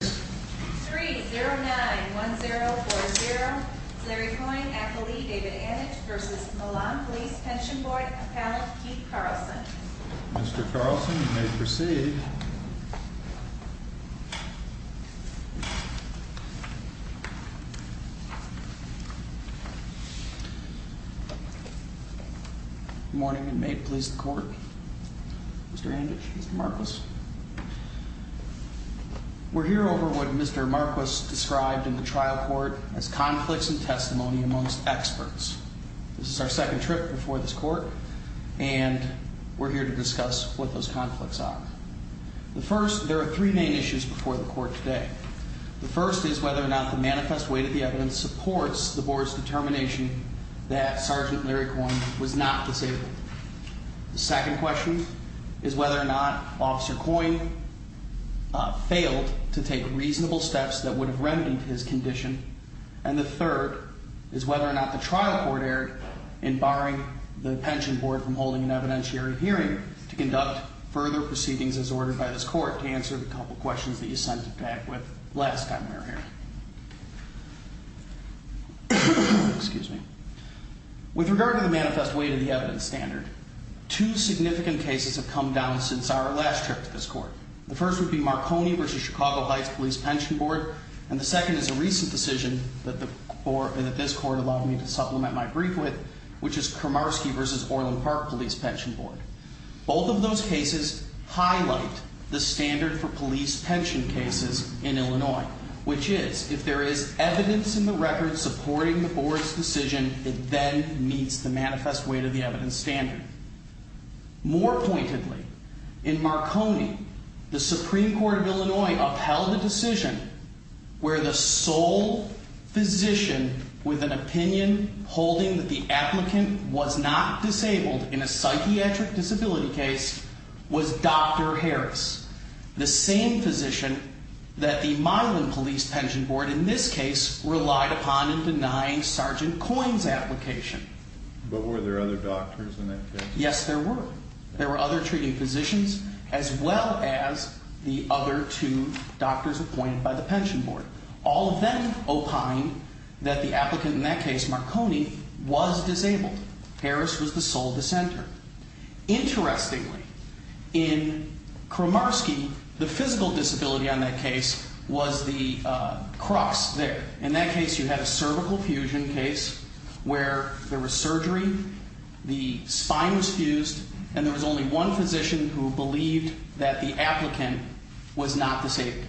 3-0-9-1-0-4-0. Larry Coyne, affilee David Anditch v. Milan Police Pension Board, appellant Keith Carlson. Mr. Carlson, you may proceed. Good morning and may it please the Court. Mr. Anditch, Mr. Marcos. We're here over what Mr. Marcos described in the trial court as conflicts in testimony amongst experts. This is our second trip before this court and we're here to discuss what those conflicts are. The first, there are three main issues before the court today. The first is whether or not the manifest weight of the evidence supports the board's determination that Sergeant Larry Coyne was not disabled. The second question is whether or not Officer Coyne failed to take reasonable steps that would have remedied his condition. And the third is whether or not the trial court erred in barring the pension board from holding an evidentiary hearing to conduct further proceedings as ordered by this court to answer the couple questions that you sent back with last time we were here. Excuse me. With regard to the manifest weight of the evidence standard, two significant cases have come down since our last trip to this court. The first would be Marconi v. Chicago Heights Police Pension Board and the second is a recent decision that this court allowed me to supplement my brief with, which is Kramarski v. Orland Park Police Pension Board. Both of those cases highlight the standard for police pension cases in Illinois, which is if there is evidence in the record supporting the board's decision, it then meets the manifest weight of the evidence standard. More pointedly, in Marconi, the Supreme Court of Illinois upheld a decision where the sole physician with an opinion holding that the applicant was not disabled in a psychiatric disability case was Dr. Harris, the same physician that the Milan Police Pension Board, in this case, relied upon in denying Sergeant Coyne's application. But were there other doctors in that case? Yes, there were. There were other treating physicians as well as the other two doctors appointed by the pension board. All of them opined that the applicant in that case, Marconi, was disabled. Harris was the sole dissenter. Interestingly, in Kramarski, the physical disability on that case was the cross there. In that case, you had a cervical fusion case where there was surgery, the spine was fused, and there was only one physician who believed that the applicant was not disabled.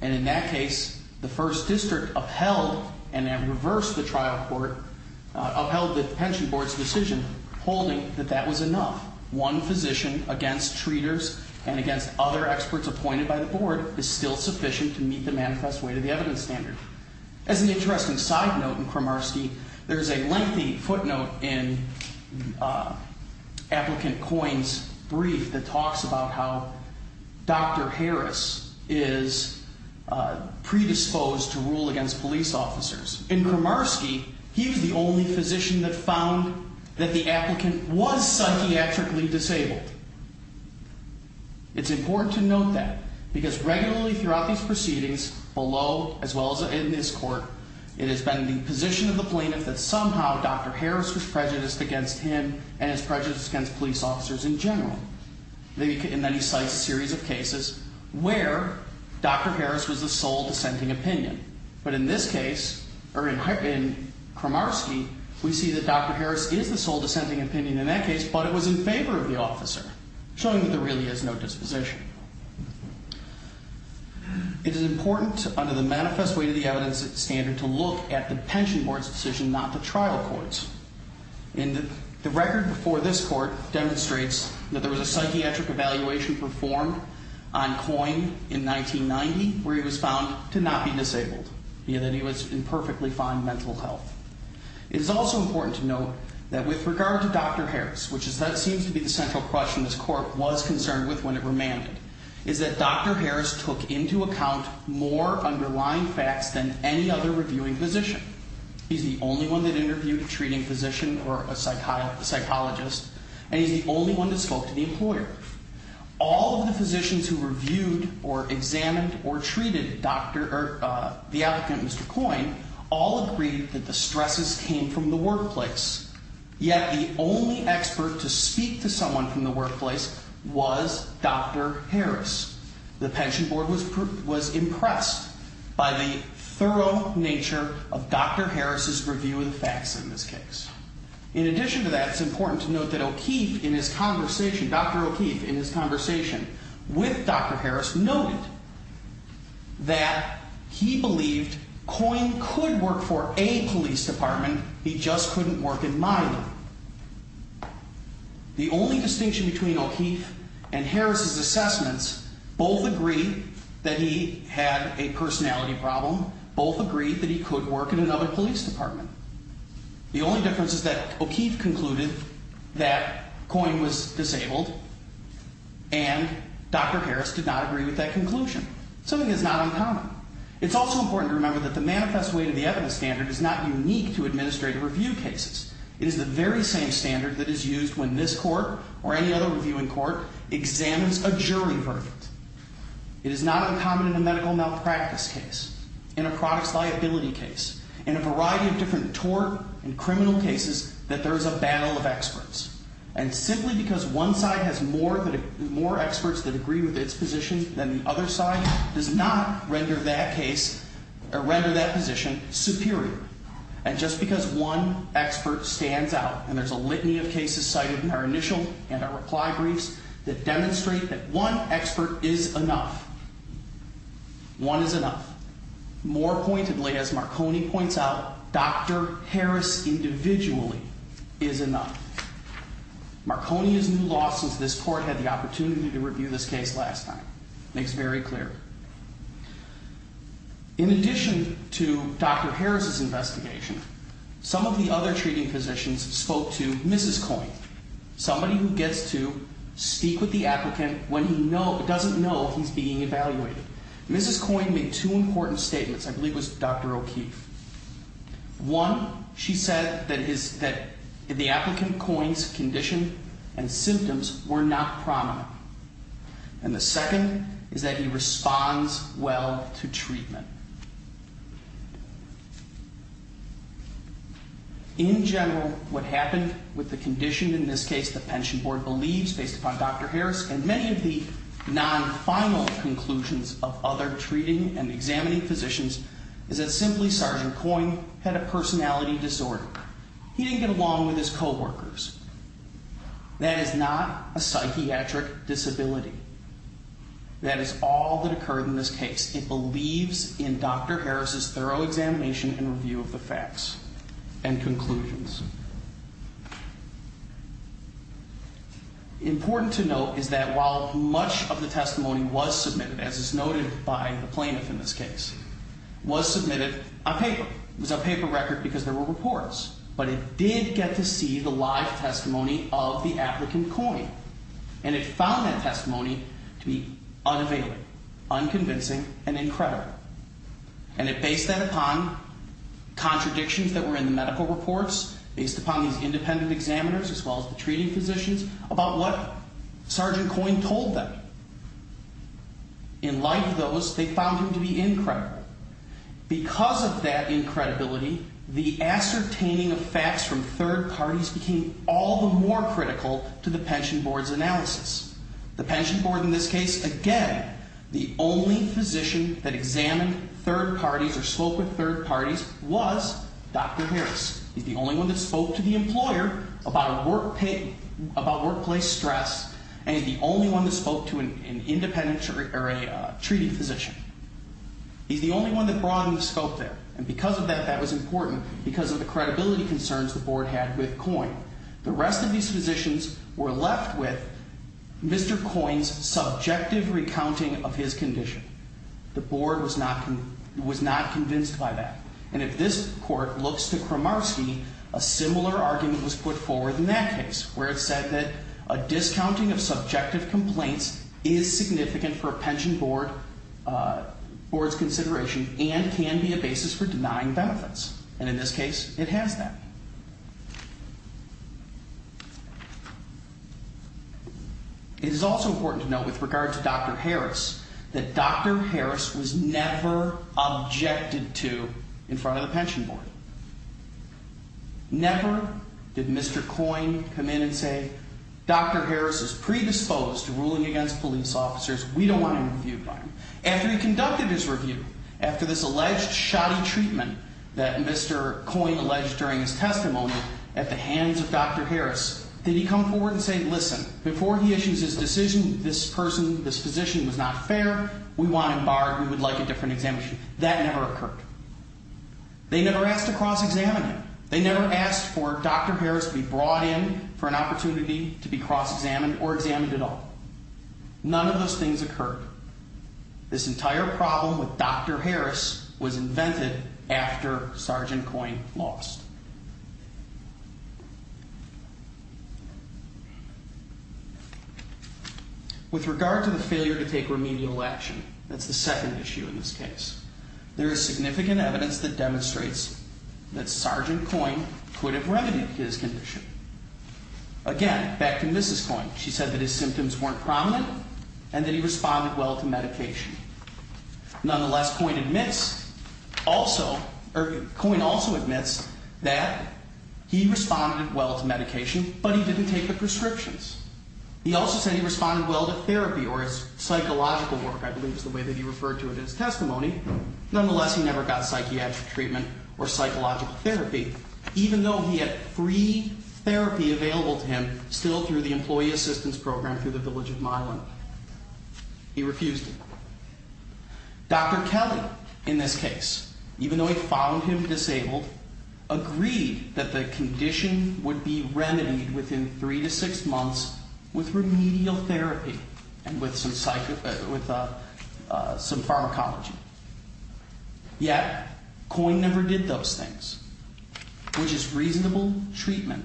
And in that case, the first district upheld, and then reversed the trial court, upheld the pension board's decision holding that that was enough. One physician against treaters and against other experts appointed by the board is still sufficient to meet the manifest weight of the evidence standard. As an interesting side note in Kramarski, there is a lengthy footnote in applicant Coyne's brief that talks about how Dr. Harris is predisposed to rule against police officers. In Kramarski, he was the only physician that found that the applicant was psychiatrically disabled. It's important to note that because regularly throughout these proceedings, below as well as in this court, it has been the position of the plaintiff that somehow Dr. Harris was prejudiced against him and his prejudice against police officers in general. And then he cites a series of cases where Dr. Harris was the sole dissenting opinion. But in this case, or in Kramarski, we see that Dr. Harris is the sole dissenting opinion in that case, but it was in favor of the officer, showing that there really is no disposition. It is important under the manifest weight of the evidence standard to look at the pension board's decision, not the trial court's. And the record before this court demonstrates that there was a psychiatric evaluation performed on Coyne in 1990 where he was found to not be disabled, being that he was in perfectly fine mental health. It is also important to note that with regard to Dr. Harris, which seems to be the central question this court was concerned with when it remanded, is that Dr. Harris took into account more underlying facts than any other reviewing physician. He's the only one that interviewed a treating physician or a psychologist, All of the physicians who reviewed or examined or treated the applicant, Mr. Coyne, all agreed that the stresses came from the workplace. Yet the only expert to speak to someone from the workplace was Dr. Harris. The pension board was impressed by the thorough nature of Dr. Harris's review of the facts in this case. In addition to that, it's important to note that Dr. O'Keefe, in his conversation with Dr. Harris, noted that he believed Coyne could work for a police department, he just couldn't work in my department. The only distinction between O'Keefe and Harris's assessments, both agree that he had a personality problem, both agree that he could work in another police department. The only difference is that O'Keefe concluded that Coyne was disabled and Dr. Harris did not agree with that conclusion. Something that's not uncommon. It's also important to remember that the manifest way to the evidence standard is not unique to administrative review cases. It is the very same standard that is used when this court or any other reviewing court examines a jury verdict. It is not uncommon in a medical malpractice case, in a products liability case, in a variety of different tort and criminal cases, that there is a battle of experts. And simply because one side has more experts that agree with its position than the other side does not render that case, or render that position, superior. And just because one expert stands out, and there's a litany of cases cited in our initial and our reply briefs that demonstrate that one expert is enough. One is enough. More pointedly, as Marconi points out, Dr. Harris individually is enough. Marconi is new law since this court had the opportunity to review this case last time. Makes it very clear. In addition to Dr. Harris's investigation, some of the other treating physicians spoke to Mrs. Coyne. Somebody who gets to speak with the applicant when he doesn't know he's being evaluated. Mrs. Coyne made two important statements. I believe it was Dr. O'Keefe. One, she said that the applicant Coyne's condition and symptoms were not prominent. And the second is that he responds well to treatment. In general, what happened with the condition, in this case the pension board believes based upon Dr. Harris, and many of the non-final conclusions of other treating and examining physicians, is that simply Sergeant Coyne had a personality disorder. He didn't get along with his coworkers. That is not a psychiatric disability. That is all that occurred in this case. It believes in Dr. Harris's thorough examination and review of the facts and conclusions. Important to note is that while much of the testimony was submitted, as is noted by the plaintiff in this case, was submitted on paper. It was a paper record because there were reports. But it did get to see the live testimony of the applicant Coyne. And it found that testimony to be unavailing, unconvincing, and incredible. And it based that upon contradictions that were in the medical reports, based upon these independent examiners as well as the treating physicians, about what Sergeant Coyne told them. In light of those, they found him to be incredible. Because of that incredibility, the ascertaining of facts from third parties became all the more critical to the pension board's analysis. The pension board in this case, again, the only physician that examined third parties or spoke with third parties was Dr. Harris. He's the only one that spoke to the employer about workplace stress, and he's the only one that spoke to an independent or a treating physician. He's the only one that broadly spoke there. And because of that, that was important because of the credibility concerns the board had with Coyne. The rest of these physicians were left with Mr. Coyne's subjective recounting of his condition. The board was not convinced by that. And if this court looks to Kramarski, a similar argument was put forward in that case, where it said that a discounting of subjective complaints is significant for a pension board's consideration and can be a basis for denying benefits. And in this case, it has that. It is also important to note with regard to Dr. Harris that Dr. Harris was never objected to in front of the pension board. Never did Mr. Coyne come in and say, Dr. Harris is predisposed to ruling against police officers. We don't want him reviewed by him. After he conducted his review, after this alleged shoddy treatment that Mr. Coyne alleged during his testimony at the hands of Dr. Harris, did he come forward and say, listen, before he issues his decision, this person, this physician was not fair. We want him barred. We would like a different examination. That never occurred. They never asked to cross-examine him. They never asked for Dr. Harris to be brought in for an opportunity to be cross-examined or examined at all. None of those things occurred. This entire problem with Dr. Harris was invented after Sergeant Coyne lost. With regard to the failure to take remedial action, that's the second issue in this case, there is significant evidence that demonstrates that Sergeant Coyne could have remedied his condition. Again, back to Mrs. Coyne. She said that his symptoms weren't prominent and that he responded well to medication. Nonetheless, Coyne admits also, or Coyne also admits that he responded well to medication, but he didn't take the prescriptions. He also said he responded well to therapy or his psychological work, I believe is the way that he referred to it in his testimony. Nonetheless, he never got psychiatric treatment or psychological therapy. Even though he had free therapy available to him still through the Employee Assistance Program through the Village of Milan, he refused it. Dr. Kelly, in this case, even though he found him disabled, agreed that the condition would be remedied within three to six months with remedial therapy and with some pharmacology. Yet, Coyne never did those things. Which is reasonable treatment,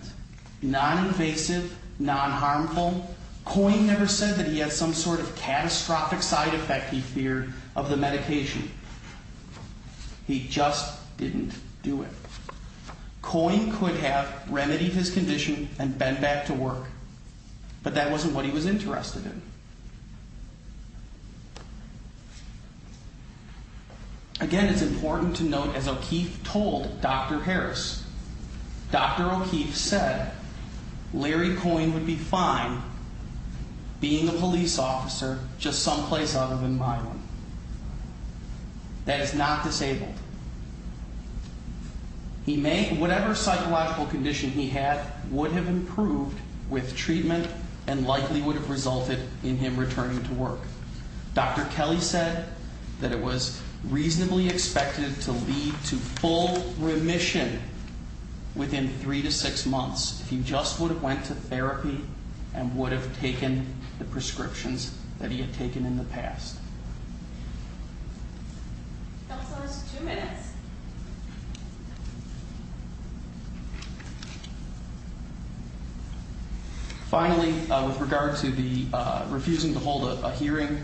non-invasive, non-harmful. Coyne never said that he had some sort of catastrophic side effect, he feared, of the medication. He just didn't do it. Coyne could have remedied his condition and been back to work, but that wasn't what he was interested in. Again, it's important to note, as O'Keefe told Dr. Harris, Dr. O'Keefe said Larry Coyne would be fine being a police officer just someplace other than Milan. That is not disabled. Whatever psychological condition he had would have improved with treatment and likely would have resulted in him returning to work. Dr. Kelly said that it was reasonably expected to lead to full remission within three to six months if he just would have went to therapy and would have taken the prescriptions that he had taken in the past. Counsel, there's two minutes. Finally, with regard to the refusing to hold a hearing,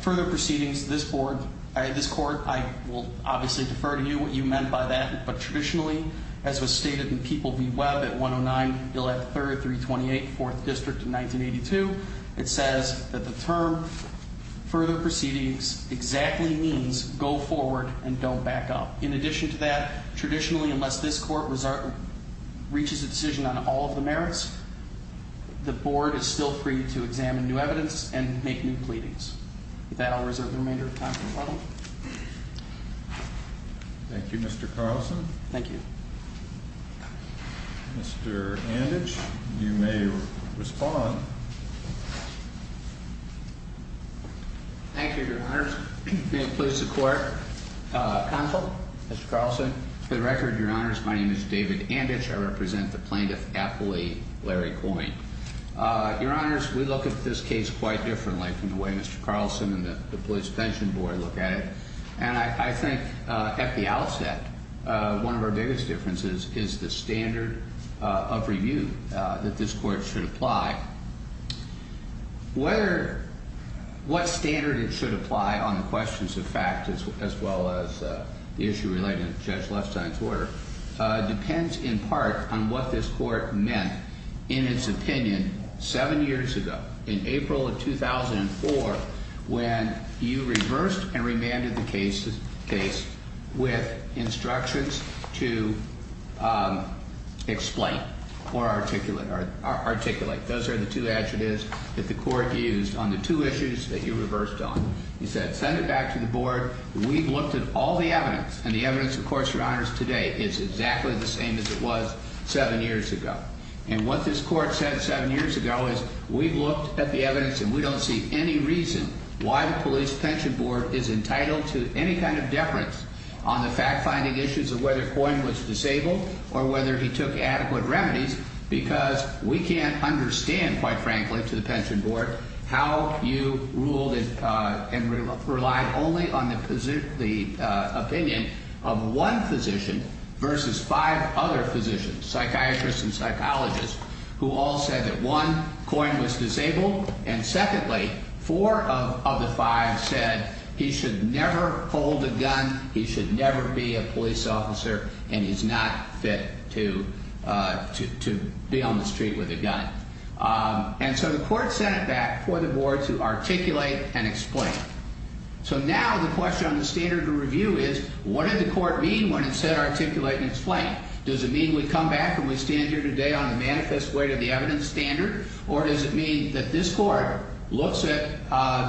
further proceedings to this court, I will obviously defer to you what you meant by that. But traditionally, as was stated in People v. Webb at 109 Bill F. 328, 4th District in 1982, it says that the term further proceedings exactly means go forward and don't back up. In addition to that, traditionally, unless this court reaches a decision on all of the merits, the board is still free to examine new evidence and make new pleadings. With that, I'll reserve the remainder of time for a moment. Thank you, Mr. Carlson. Thank you. Mr. Anditch, you may respond. Thank you, Your Honors. May it please the Court. Counsel? Mr. Carlson? For the record, Your Honors, my name is David Anditch. I represent the plaintiff appellee, Larry Coyne. Your Honors, we look at this case quite differently from the way Mr. Carlson and the police detention board look at it. And I think at the outset, one of our biggest differences is the standard of review that this court should apply. What standard it should apply on the questions of fact, as well as the issue relating to Judge Lefstein's order, depends in part on what this court meant in its opinion seven years ago, in April of 2004, when you reversed and remanded the case with instructions to explain or articulate. Those are the two adjectives that the court used on the two issues that you reversed on. You said, send it back to the board. We've looked at all the evidence, and the evidence, of course, Your Honors, today is exactly the same as it was seven years ago. And what this court said seven years ago is, we've looked at the evidence, and we don't see any reason why the police pension board is entitled to any kind of deference on the fact-finding issues of whether Coyne was disabled or whether he took adequate remedies, because we can't understand, quite frankly, to the pension board how you ruled and relied only on the opinion of one physician versus five other physicians, psychiatrists and psychologists, who all said that one, Coyne was disabled, and secondly, four of the five said he should never hold a gun, he should never be a police officer, and he's not fit to be on the street with a gun. And so the court sent it back for the board to articulate and explain. So now the question on the standard of review is, what did the court mean when it said articulate and explain? Does it mean we come back and we stand here today on the manifest way to the evidence standard? Or does it mean that this court looks at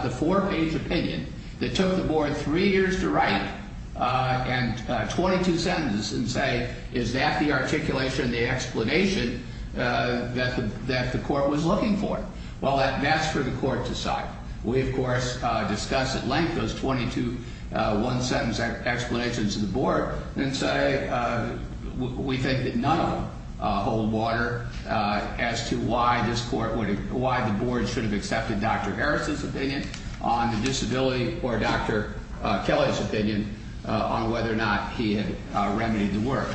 the four-page opinion that took the board three years to write and 22 sentences and say, is that the articulation, the explanation that the court was looking for? Well, that's for the court to decide. We, of course, discuss at length those 22 one-sentence explanations to the board and say we think that none of them hold water as to why the board should have accepted Dr. Harris's opinion on the disability or Dr. Kelly's opinion on whether or not he had remedied the work,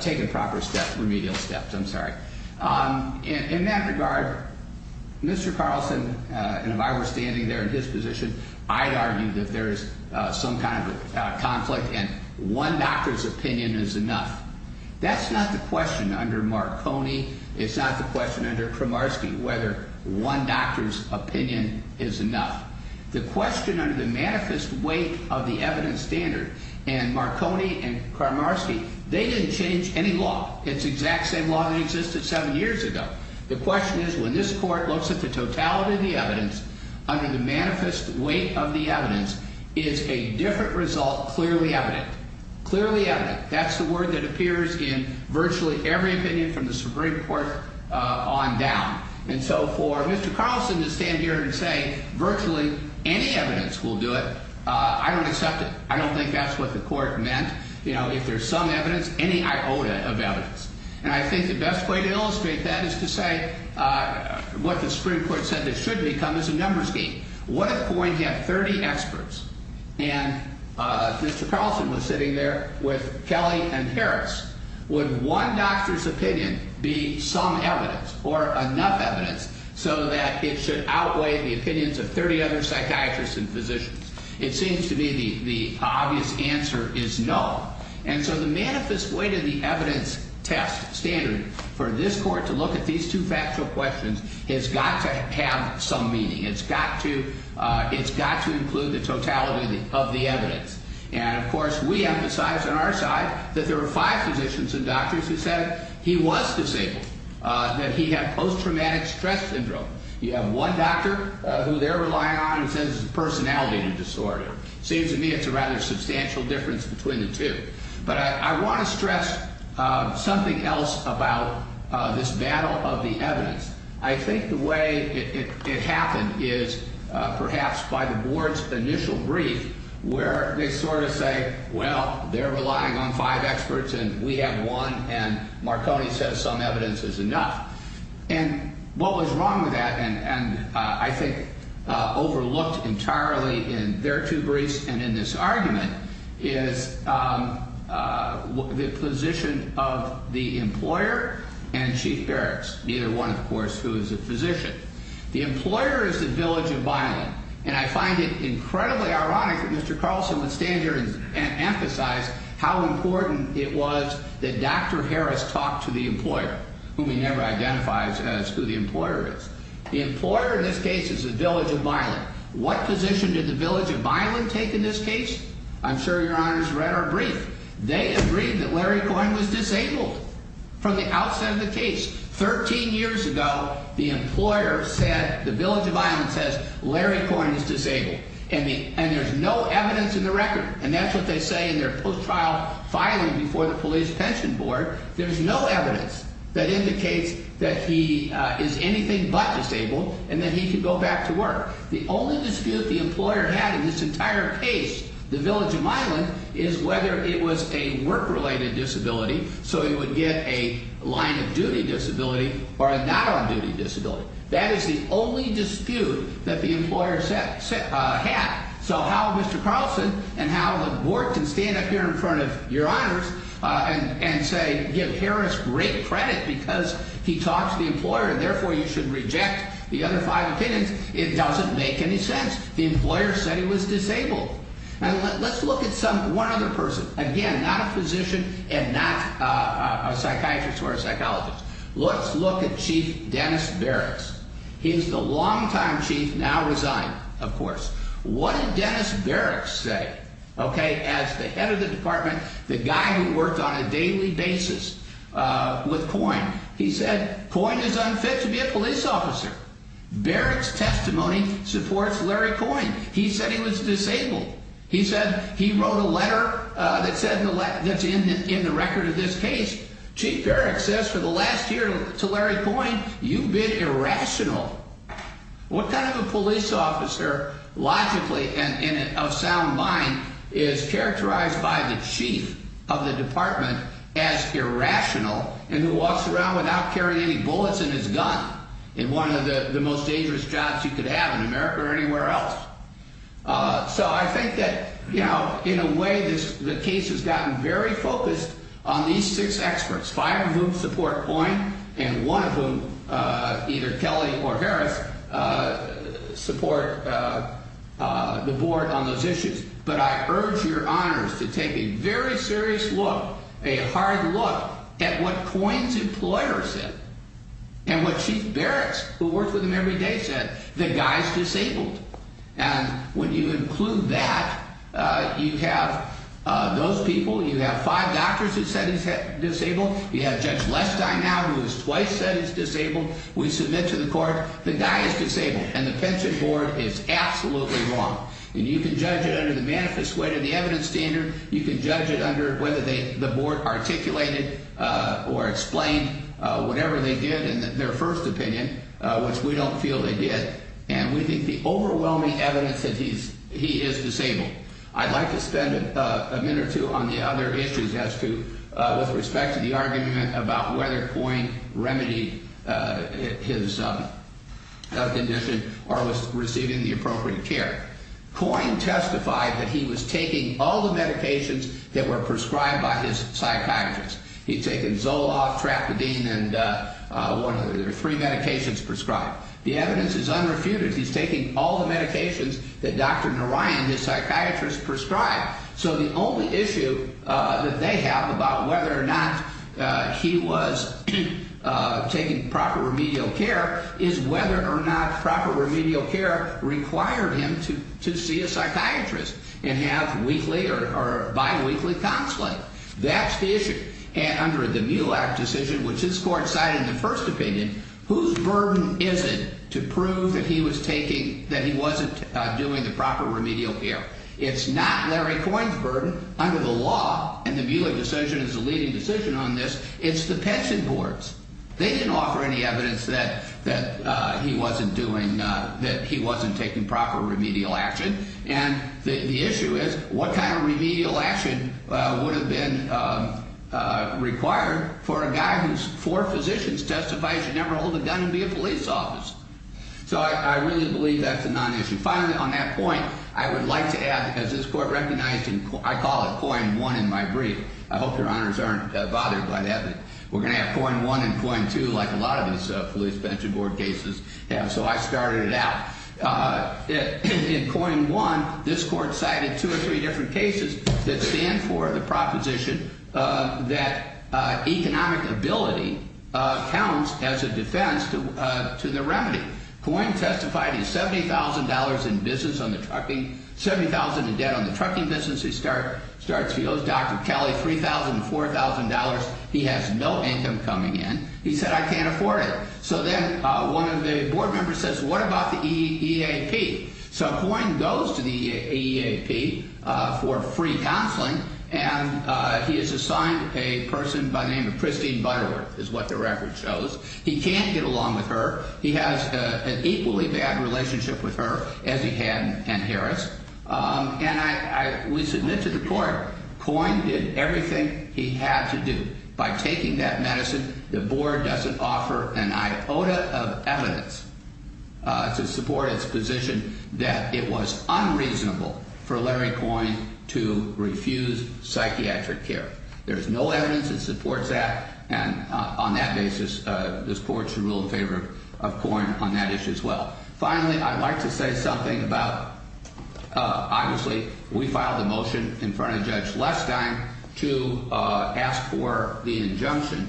taken proper steps, remedial steps, I'm sorry. In that regard, Mr. Carlson and if I were standing there in his position, I'd argue that there is some kind of conflict and one doctor's opinion is enough. That's not the question under Marconi. It's not the question under Kramarski whether one doctor's opinion is enough. The question under the manifest weight of the evidence standard and Marconi and Kramarski, they didn't change any law. It's the exact same law that existed seven years ago. The question is when this court looks at the totality of the evidence under the manifest weight of the evidence, is a different result clearly evident? Clearly evident. That's the word that appears in virtually every opinion from the Supreme Court on down. And so for Mr. Carlson to stand here and say virtually any evidence will do it, I don't accept it. I don't think that's what the court meant. You know, if there's some evidence, any iota of evidence. And I think the best way to illustrate that is to say what the Supreme Court said it should become is a numbers game. What if Poyne had 30 experts and Mr. Carlson was sitting there with Kelly and Harris? Would one doctor's opinion be some evidence or enough evidence so that it should outweigh the opinions of 30 other psychiatrists and physicians? It seems to me the obvious answer is no. And so the manifest weight of the evidence test standard for this court to look at these two factual questions has got to have some meaning. It's got to include the totality of the evidence. And, of course, we emphasize on our side that there were five physicians and doctors who said he was disabled, that he had post-traumatic stress syndrome. You have one doctor who they're relying on who says it's a personality disorder. It seems to me it's a rather substantial difference between the two. But I want to stress something else about this battle of the evidence. I think the way it happened is perhaps by the board's initial brief where they sort of say, well, they're relying on five experts and we have one. And Marconi says some evidence is enough. And what was wrong with that and I think overlooked entirely in their two briefs and in this argument is the position of the employer and Chief Harris, neither one, of course, who is a physician. The employer is the village of Byland. And I find it incredibly ironic that Mr. Carlson would stand here and emphasize how important it was that Dr. Harris talked to the employer, whom he never identifies as who the employer is. The employer in this case is the village of Byland. What position did the village of Byland take in this case? I'm sure Your Honors read our brief. They agreed that Larry Coyne was disabled from the outset of the case. Thirteen years ago, the employer said, the village of Byland says, Larry Coyne is disabled. And there's no evidence in the record. And that's what they say in their post-trial filing before the police pension board. There's no evidence that indicates that he is anything but disabled and that he can go back to work. The only dispute the employer had in this entire case, the village of Byland, is whether it was a work-related disability, so he would get a line-of-duty disability or a not-on-duty disability. That is the only dispute that the employer had. So how Mr. Carlson and how the board can stand up here in front of Your Honors and say, give Harris great credit because he talked to the employer, and therefore you should reject the other five opinions, it doesn't make any sense. The employer said he was disabled. Now, let's look at one other person. Again, not a physician and not a psychiatrist or a psychologist. Let's look at Chief Dennis Berrics. What did Dennis Berrics say as the head of the department, the guy who worked on a daily basis with COIN? He said COIN is unfit to be a police officer. Berrics' testimony supports Larry COIN. He said he was disabled. He said he wrote a letter that's in the record of this case. Chief Berrics says for the last year to Larry COIN, you've been irrational. What kind of a police officer logically and of sound mind is characterized by the chief of the department as irrational and who walks around without carrying any bullets in his gun in one of the most dangerous jobs you could have in America or anywhere else? So I think that, you know, in a way the case has gotten very focused on these six experts. Five of whom support COIN and one of whom, either Kelly or Harris, support the board on those issues. But I urge your honors to take a very serious look, a hard look, at what COIN's employer said and what Chief Berrics, who worked with him every day, said, the guy's disabled. And when you include that, you have those people. You have five doctors who said he's disabled. You have Judge Lestine now who has twice said he's disabled. We submit to the court the guy is disabled. And the pension board is absolutely wrong. And you can judge it under the manifest way to the evidence standard. You can judge it under whether the board articulated or explained whatever they did in their first opinion, which we don't feel they did. And we think the overwhelming evidence that he is disabled. I'd like to spend a minute or two on the other issues as to, with respect to the argument about whether COIN remedied his condition or was receiving the appropriate care. COIN testified that he was taking all the medications that were prescribed by his psychiatrist. He'd taken Zoloft, Trapadine, and one of the three medications prescribed. The evidence is unrefuted. He's taking all the medications that Dr. Narayan, his psychiatrist, prescribed. So the only issue that they have about whether or not he was taking proper remedial care is whether or not proper remedial care required him to see a psychiatrist and have weekly or biweekly consult. That's the issue. And under the MULAC decision, which this court cited in the first opinion, whose burden is it to prove that he was taking, that he wasn't doing the proper remedial care? It's not Larry COIN's burden under the law. And the MULAC decision is the leading decision on this. It's the pension board's. They didn't offer any evidence that he wasn't doing, that he wasn't taking proper remedial action. And the issue is, what kind of remedial action would have been required for a guy whose four physicians testified he should never hold a gun and be a police officer? So I really believe that's a non-issue. Finally, on that point, I would like to add, as this court recognized, and I call it COIN 1 in my brief. I hope your honors aren't bothered by that. We're going to have COIN 1 and COIN 2, like a lot of these police pension board cases have. So I started it out. In COIN 1, this court cited two or three different cases that stand for the proposition that economic ability counts as a defense to the remedy. COIN testified he has $70,000 in business on the trucking, $70,000 in debt on the trucking business. He starts, he owes Dr. Kelly $3,000 and $4,000. He has no income coming in. He said, I can't afford it. So then one of the board members says, what about the EAP? So COIN goes to the EAP for free counseling, and he has assigned a person by the name of Christine Butterworth, is what the record shows. He can't get along with her. He has an equally bad relationship with her, as he had with Ann Harris. And we submit to the court, COIN did everything he had to do. By taking that medicine, the board doesn't offer an iota of evidence to support its position that it was unreasonable for Larry COIN to refuse psychiatric care. There's no evidence that supports that. And on that basis, this court should rule in favor of COIN on that issue as well. Finally, I'd like to say something about, obviously, we filed a motion in front of Judge Lestine to ask for the injunction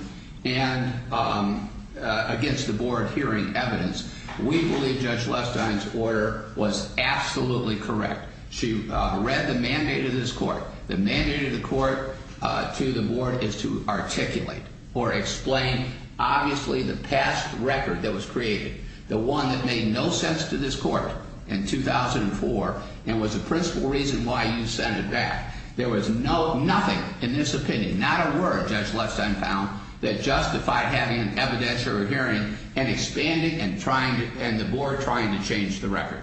against the board hearing evidence. We believe Judge Lestine's order was absolutely correct. She read the mandate of this court. The mandate of the court to the board is to articulate or explain, obviously, the past record that was created. The one that made no sense to this court in 2004 and was the principal reason why you sent it back. There was nothing in this opinion, not a word, Judge Lestine found, that justified having an evidentiary hearing and expanding and the board trying to change the record.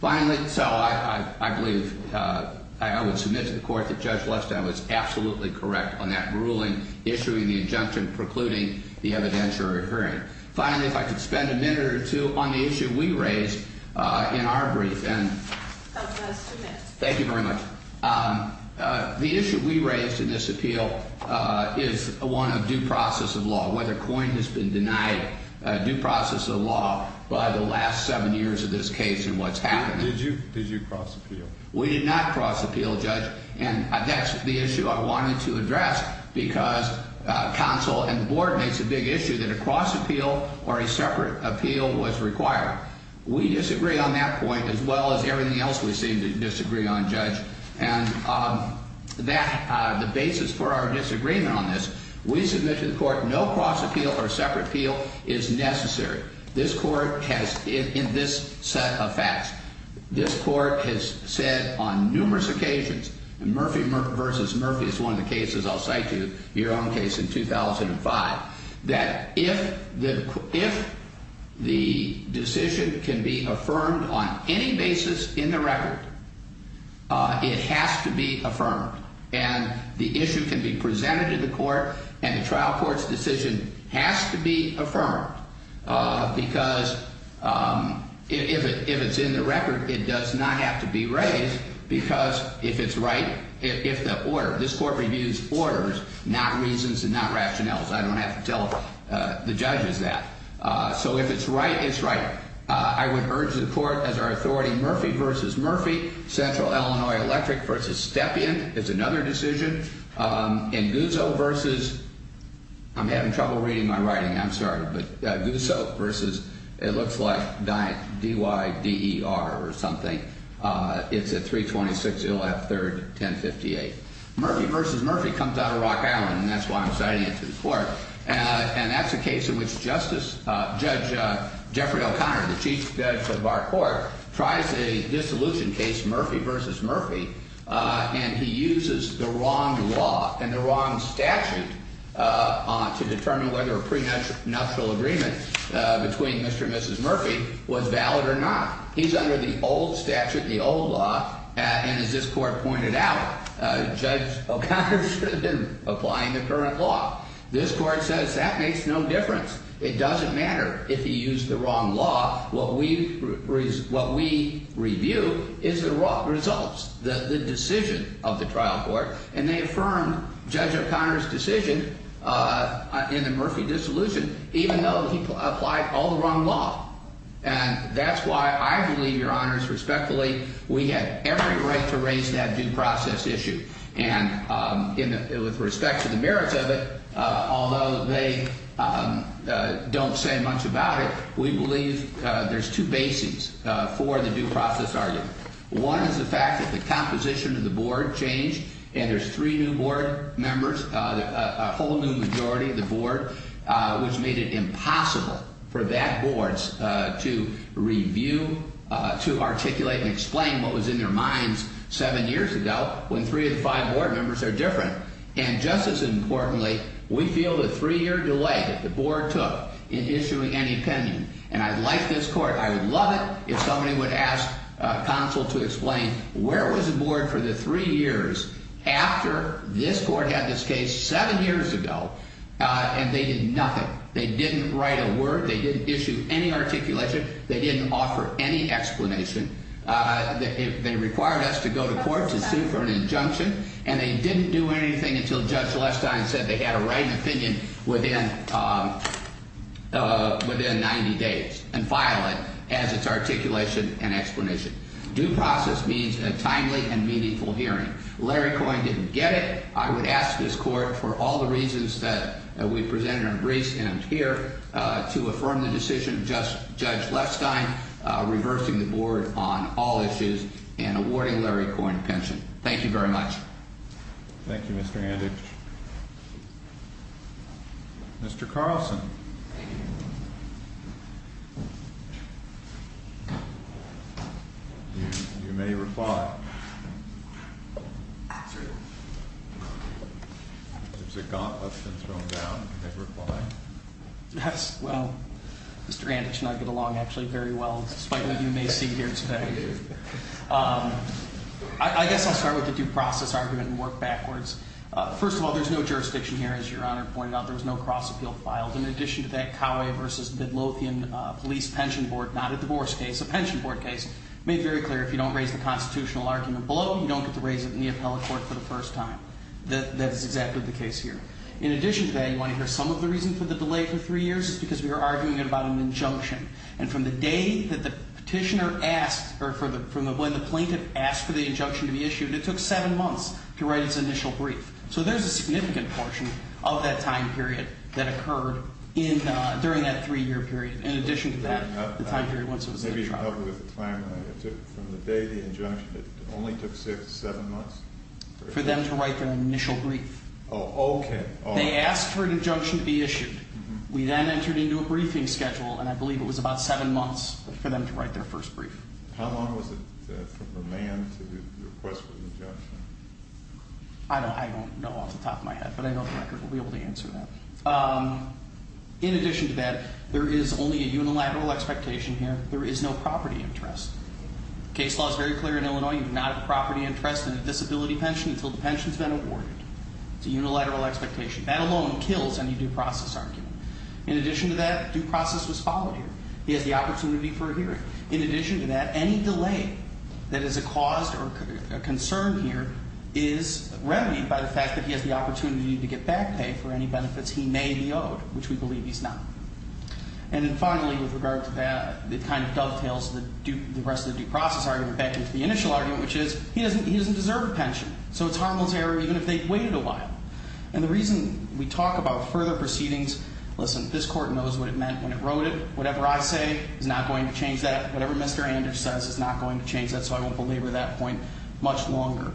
Finally, so I believe I would submit to the court that Judge Lestine was absolutely correct on that ruling, issuing the injunction precluding the evidentiary hearing. Finally, if I could spend a minute or two on the issue we raised in our brief. Thank you very much. The issue we raised in this appeal is one of due process of law, whether COIN has been denied due process of law by the last seven years of this case and what's happened. Did you cross appeal? We did not cross appeal, Judge. And that's the issue I wanted to address because counsel and the board makes a big issue that a cross appeal or a separate appeal was required. We disagree on that point as well as everything else we seem to disagree on, Judge. And the basis for our disagreement on this, we submit to the court no cross appeal or separate appeal is necessary. This court has, in this set of facts, this court has said on numerous occasions, and Murphy versus Murphy is one of the cases I'll cite to you, your own case in 2005, that if the decision can be affirmed on any basis in the record, it has to be affirmed. And the issue can be presented to the court and the trial court's decision has to be affirmed because if it's in the record, it does not have to be raised because if it's right, if the order, this court reviews orders, not reasons and not rationales. I don't have to tell the judges that. So if it's right, it's right. I would urge the court as our authority, Murphy versus Murphy, Central Illinois Electric versus Stepien. It's another decision. And Guzzo versus, I'm having trouble reading my writing. I'm sorry. But Guzzo versus, it looks like, D-Y-D-E-R or something. It's at 326. You'll have third, 1058. Murphy versus Murphy comes out of Rock Island, and that's why I'm citing it to the court. And that's a case in which Justice, Judge Jeffrey O'Connor, the Chief Judge of our court, tries a dissolution case, Murphy versus Murphy, and he uses the wrong law and the wrong statute to determine whether a prenuptial agreement between Mr. and Mrs. Murphy was valid or not. He's under the old statute, the old law, and as this court pointed out, Judge O'Connor should have been applying the current law. This court says that makes no difference. It doesn't matter if he used the wrong law. What we review is the results, the decision of the trial court, and they affirmed Judge O'Connor's decision in the Murphy dissolution, even though he applied all the wrong law. And that's why I believe, Your Honors, respectfully, we have every right to raise that due process issue, and with respect to the merits of it, although they don't say much about it, we believe there's two bases for the due process argument. One is the fact that the composition of the board changed, and there's three new board members, a whole new majority of the board, which made it impossible for that board to review, to articulate and explain what was in their minds seven years ago when three of the five board members are different. And just as importantly, we feel the three-year delay that the board took in issuing any opinion, and I'd like this court, I would love it if somebody would ask counsel to explain where was the board for the three years after this court had this case seven years ago, and they did nothing. They didn't write a word. They didn't issue any articulation. They didn't offer any explanation. They required us to go to court to sue for an injunction, and they didn't do anything until Judge Lestine said they had to write an opinion within 90 days and file it as its articulation and explanation. Due process means a timely and meaningful hearing. Larry Coyne didn't get it. I would ask this court, for all the reasons that we presented in Greece and here, to affirm the decision of Judge Lestine, reversing the board on all issues and awarding Larry Coyne pension. Thank you very much. Thank you, Mr. Anditch. Mr. Carlson. You may reply. Well, Mr. Anditch and I get along actually very well, despite what you may see here today. I guess I'll start with the due process argument and work backwards. First of all, there's no jurisdiction here. As Your Honor pointed out, there was no cross-appeal filed. In addition to that, Coway v. Midlothian Police Pension Board, not a divorce case, a pension board case, you don't get to raise it in the appellate court for the first time. That is exactly the case here. In addition to that, you want to hear some of the reason for the delay for three years? It's because we were arguing about an injunction. And from the day that the petitioner asked or from when the plaintiff asked for the injunction to be issued, it took seven months to write its initial brief. So there's a significant portion of that time period that occurred during that three-year period. In addition to that, the time period once it was in the trial. From the day of the injunction, it only took seven months? For them to write their initial brief. Oh, okay. They asked for an injunction to be issued. We then entered into a briefing schedule, and I believe it was about seven months for them to write their first brief. How long was it from the man to the request for the injunction? I don't know off the top of my head, but I know the record will be able to answer that. In addition to that, there is only a unilateral expectation here. There is no property interest. Case law is very clear in Illinois. You do not have a property interest in a disability pension until the pension's been awarded. It's a unilateral expectation. That alone kills any due process argument. In addition to that, due process was followed here. He has the opportunity for a hearing. In addition to that, any delay that is a cause or a concern here is remedied by the fact that he has the opportunity to get back pay for any benefits he may be owed, which we believe he's not. And then finally, with regard to that, it kind of dovetails the rest of the due process argument back into the initial argument, which is he doesn't deserve a pension. So it's harmless error even if they waited a while. And the reason we talk about further proceedings, listen, this court knows what it meant when it wrote it. Whatever I say is not going to change that. Whatever Mr. Anders says is not going to change that, so I won't belabor that point much longer.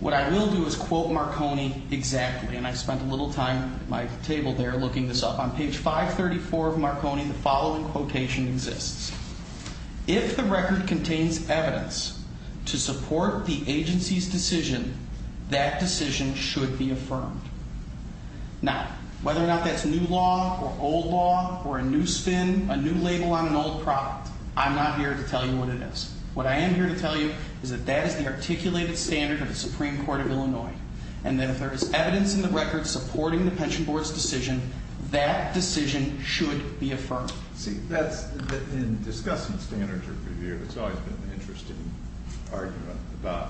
What I will do is quote Marconi exactly, and I spent a little time at my table there looking this up. On page 534 of Marconi, the following quotation exists. If the record contains evidence to support the agency's decision, that decision should be affirmed. Now, whether or not that's new law or old law or a new spin, a new label on an old product, I'm not here to tell you what it is. What I am here to tell you is that that is the articulated standard of the Supreme Court of Illinois, and that if there is evidence in the record supporting the pension board's decision, that decision should be affirmed. See, in discussing standards of review, there's always been an interesting argument about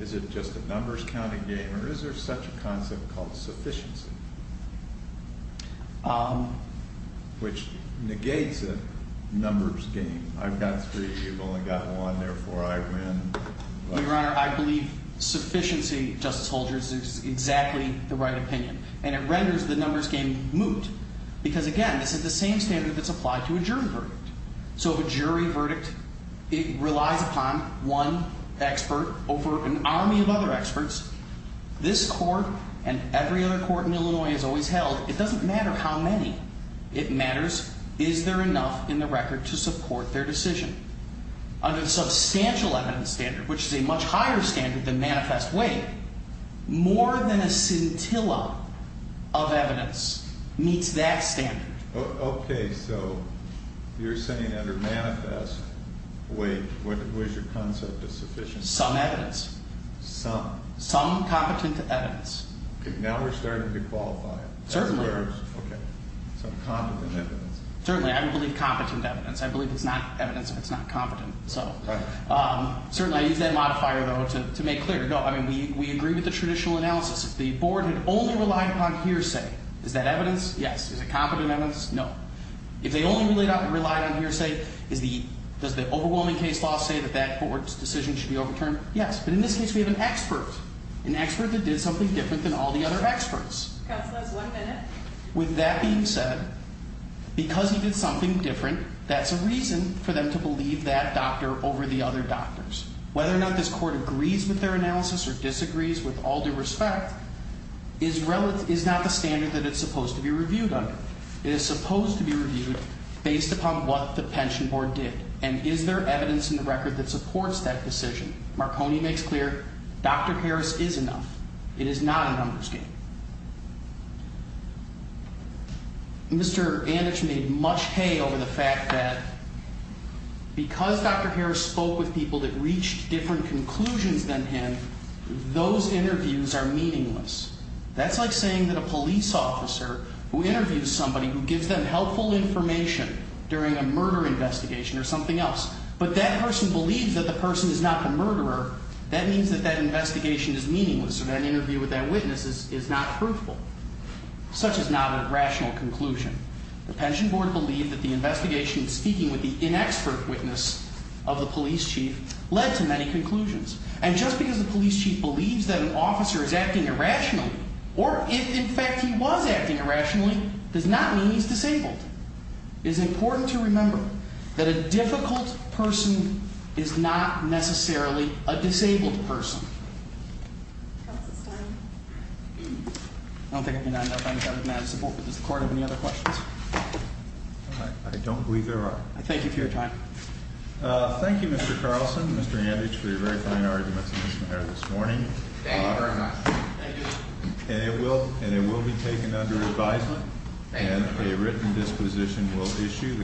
is it just a numbers counting game or is there such a concept called sufficiency, which negates a numbers game? I've got three, you've only got one, therefore I win. Your Honor, I believe sufficiency, Justice Holder, is exactly the right opinion, and it renders the numbers game moot because, again, this is the same standard that's applied to a jury verdict. So if a jury verdict, it relies upon one expert over an army of other experts. This court and every other court in Illinois has always held it doesn't matter how many. It matters is there enough in the record to support their decision. Under the substantial evidence standard, which is a much higher standard than manifest weight, more than a scintilla of evidence meets that standard. Okay, so you're saying under manifest weight, what is your concept of sufficiency? Some evidence. Some? Some competent evidence. Okay, now we're starting to qualify it. Certainly. Okay, so competent evidence. Certainly, I believe competent evidence. I believe it's not evidence if it's not competent. So certainly I use that modifier, though, to make clear. No, I mean, we agree with the traditional analysis. If the board had only relied upon hearsay, is that evidence? Yes. Is it competent evidence? No. If they only relied on hearsay, does the overwhelming case law say that that board's decision should be overturned? Yes. But in this case, we have an expert, an expert that did something different than all the other experts. Counsel, that's one minute. With that being said, because he did something different, that's a reason for them to believe that doctor over the other doctors. Whether or not this court agrees with their analysis or disagrees with all due respect, is not the standard that it's supposed to be reviewed under. It is supposed to be reviewed based upon what the pension board did. And is there evidence in the record that supports that decision? Marconi makes clear, Dr. Harris is enough. It is not a numbers game. Mr. Anditch made much hay over the fact that because Dr. Harris spoke with people that reached different conclusions than him, those interviews are meaningless. That's like saying that a police officer who interviews somebody who gives them helpful information during a murder investigation or something else, but that person believes that the person is not the murderer, that means that that investigation is meaningless. So that interview with that witness is not proofful. Such is not a rational conclusion. The pension board believed that the investigation of speaking with the inexpert witness of the police chief led to many conclusions. And just because the police chief believes that an officer is acting irrationally, or if in fact he was acting irrationally, does not mean he's disabled. It is important to remember that a difficult person is not necessarily a disabled person. I don't think I can add to that, but does the court have any other questions? I don't believe there are. Thank you for your time. Thank you, Mr. Carlson, Mr. Anditch, for your very fine arguments this morning. Thank you very much. And it will be taken under advisement, and a written disposition will issue.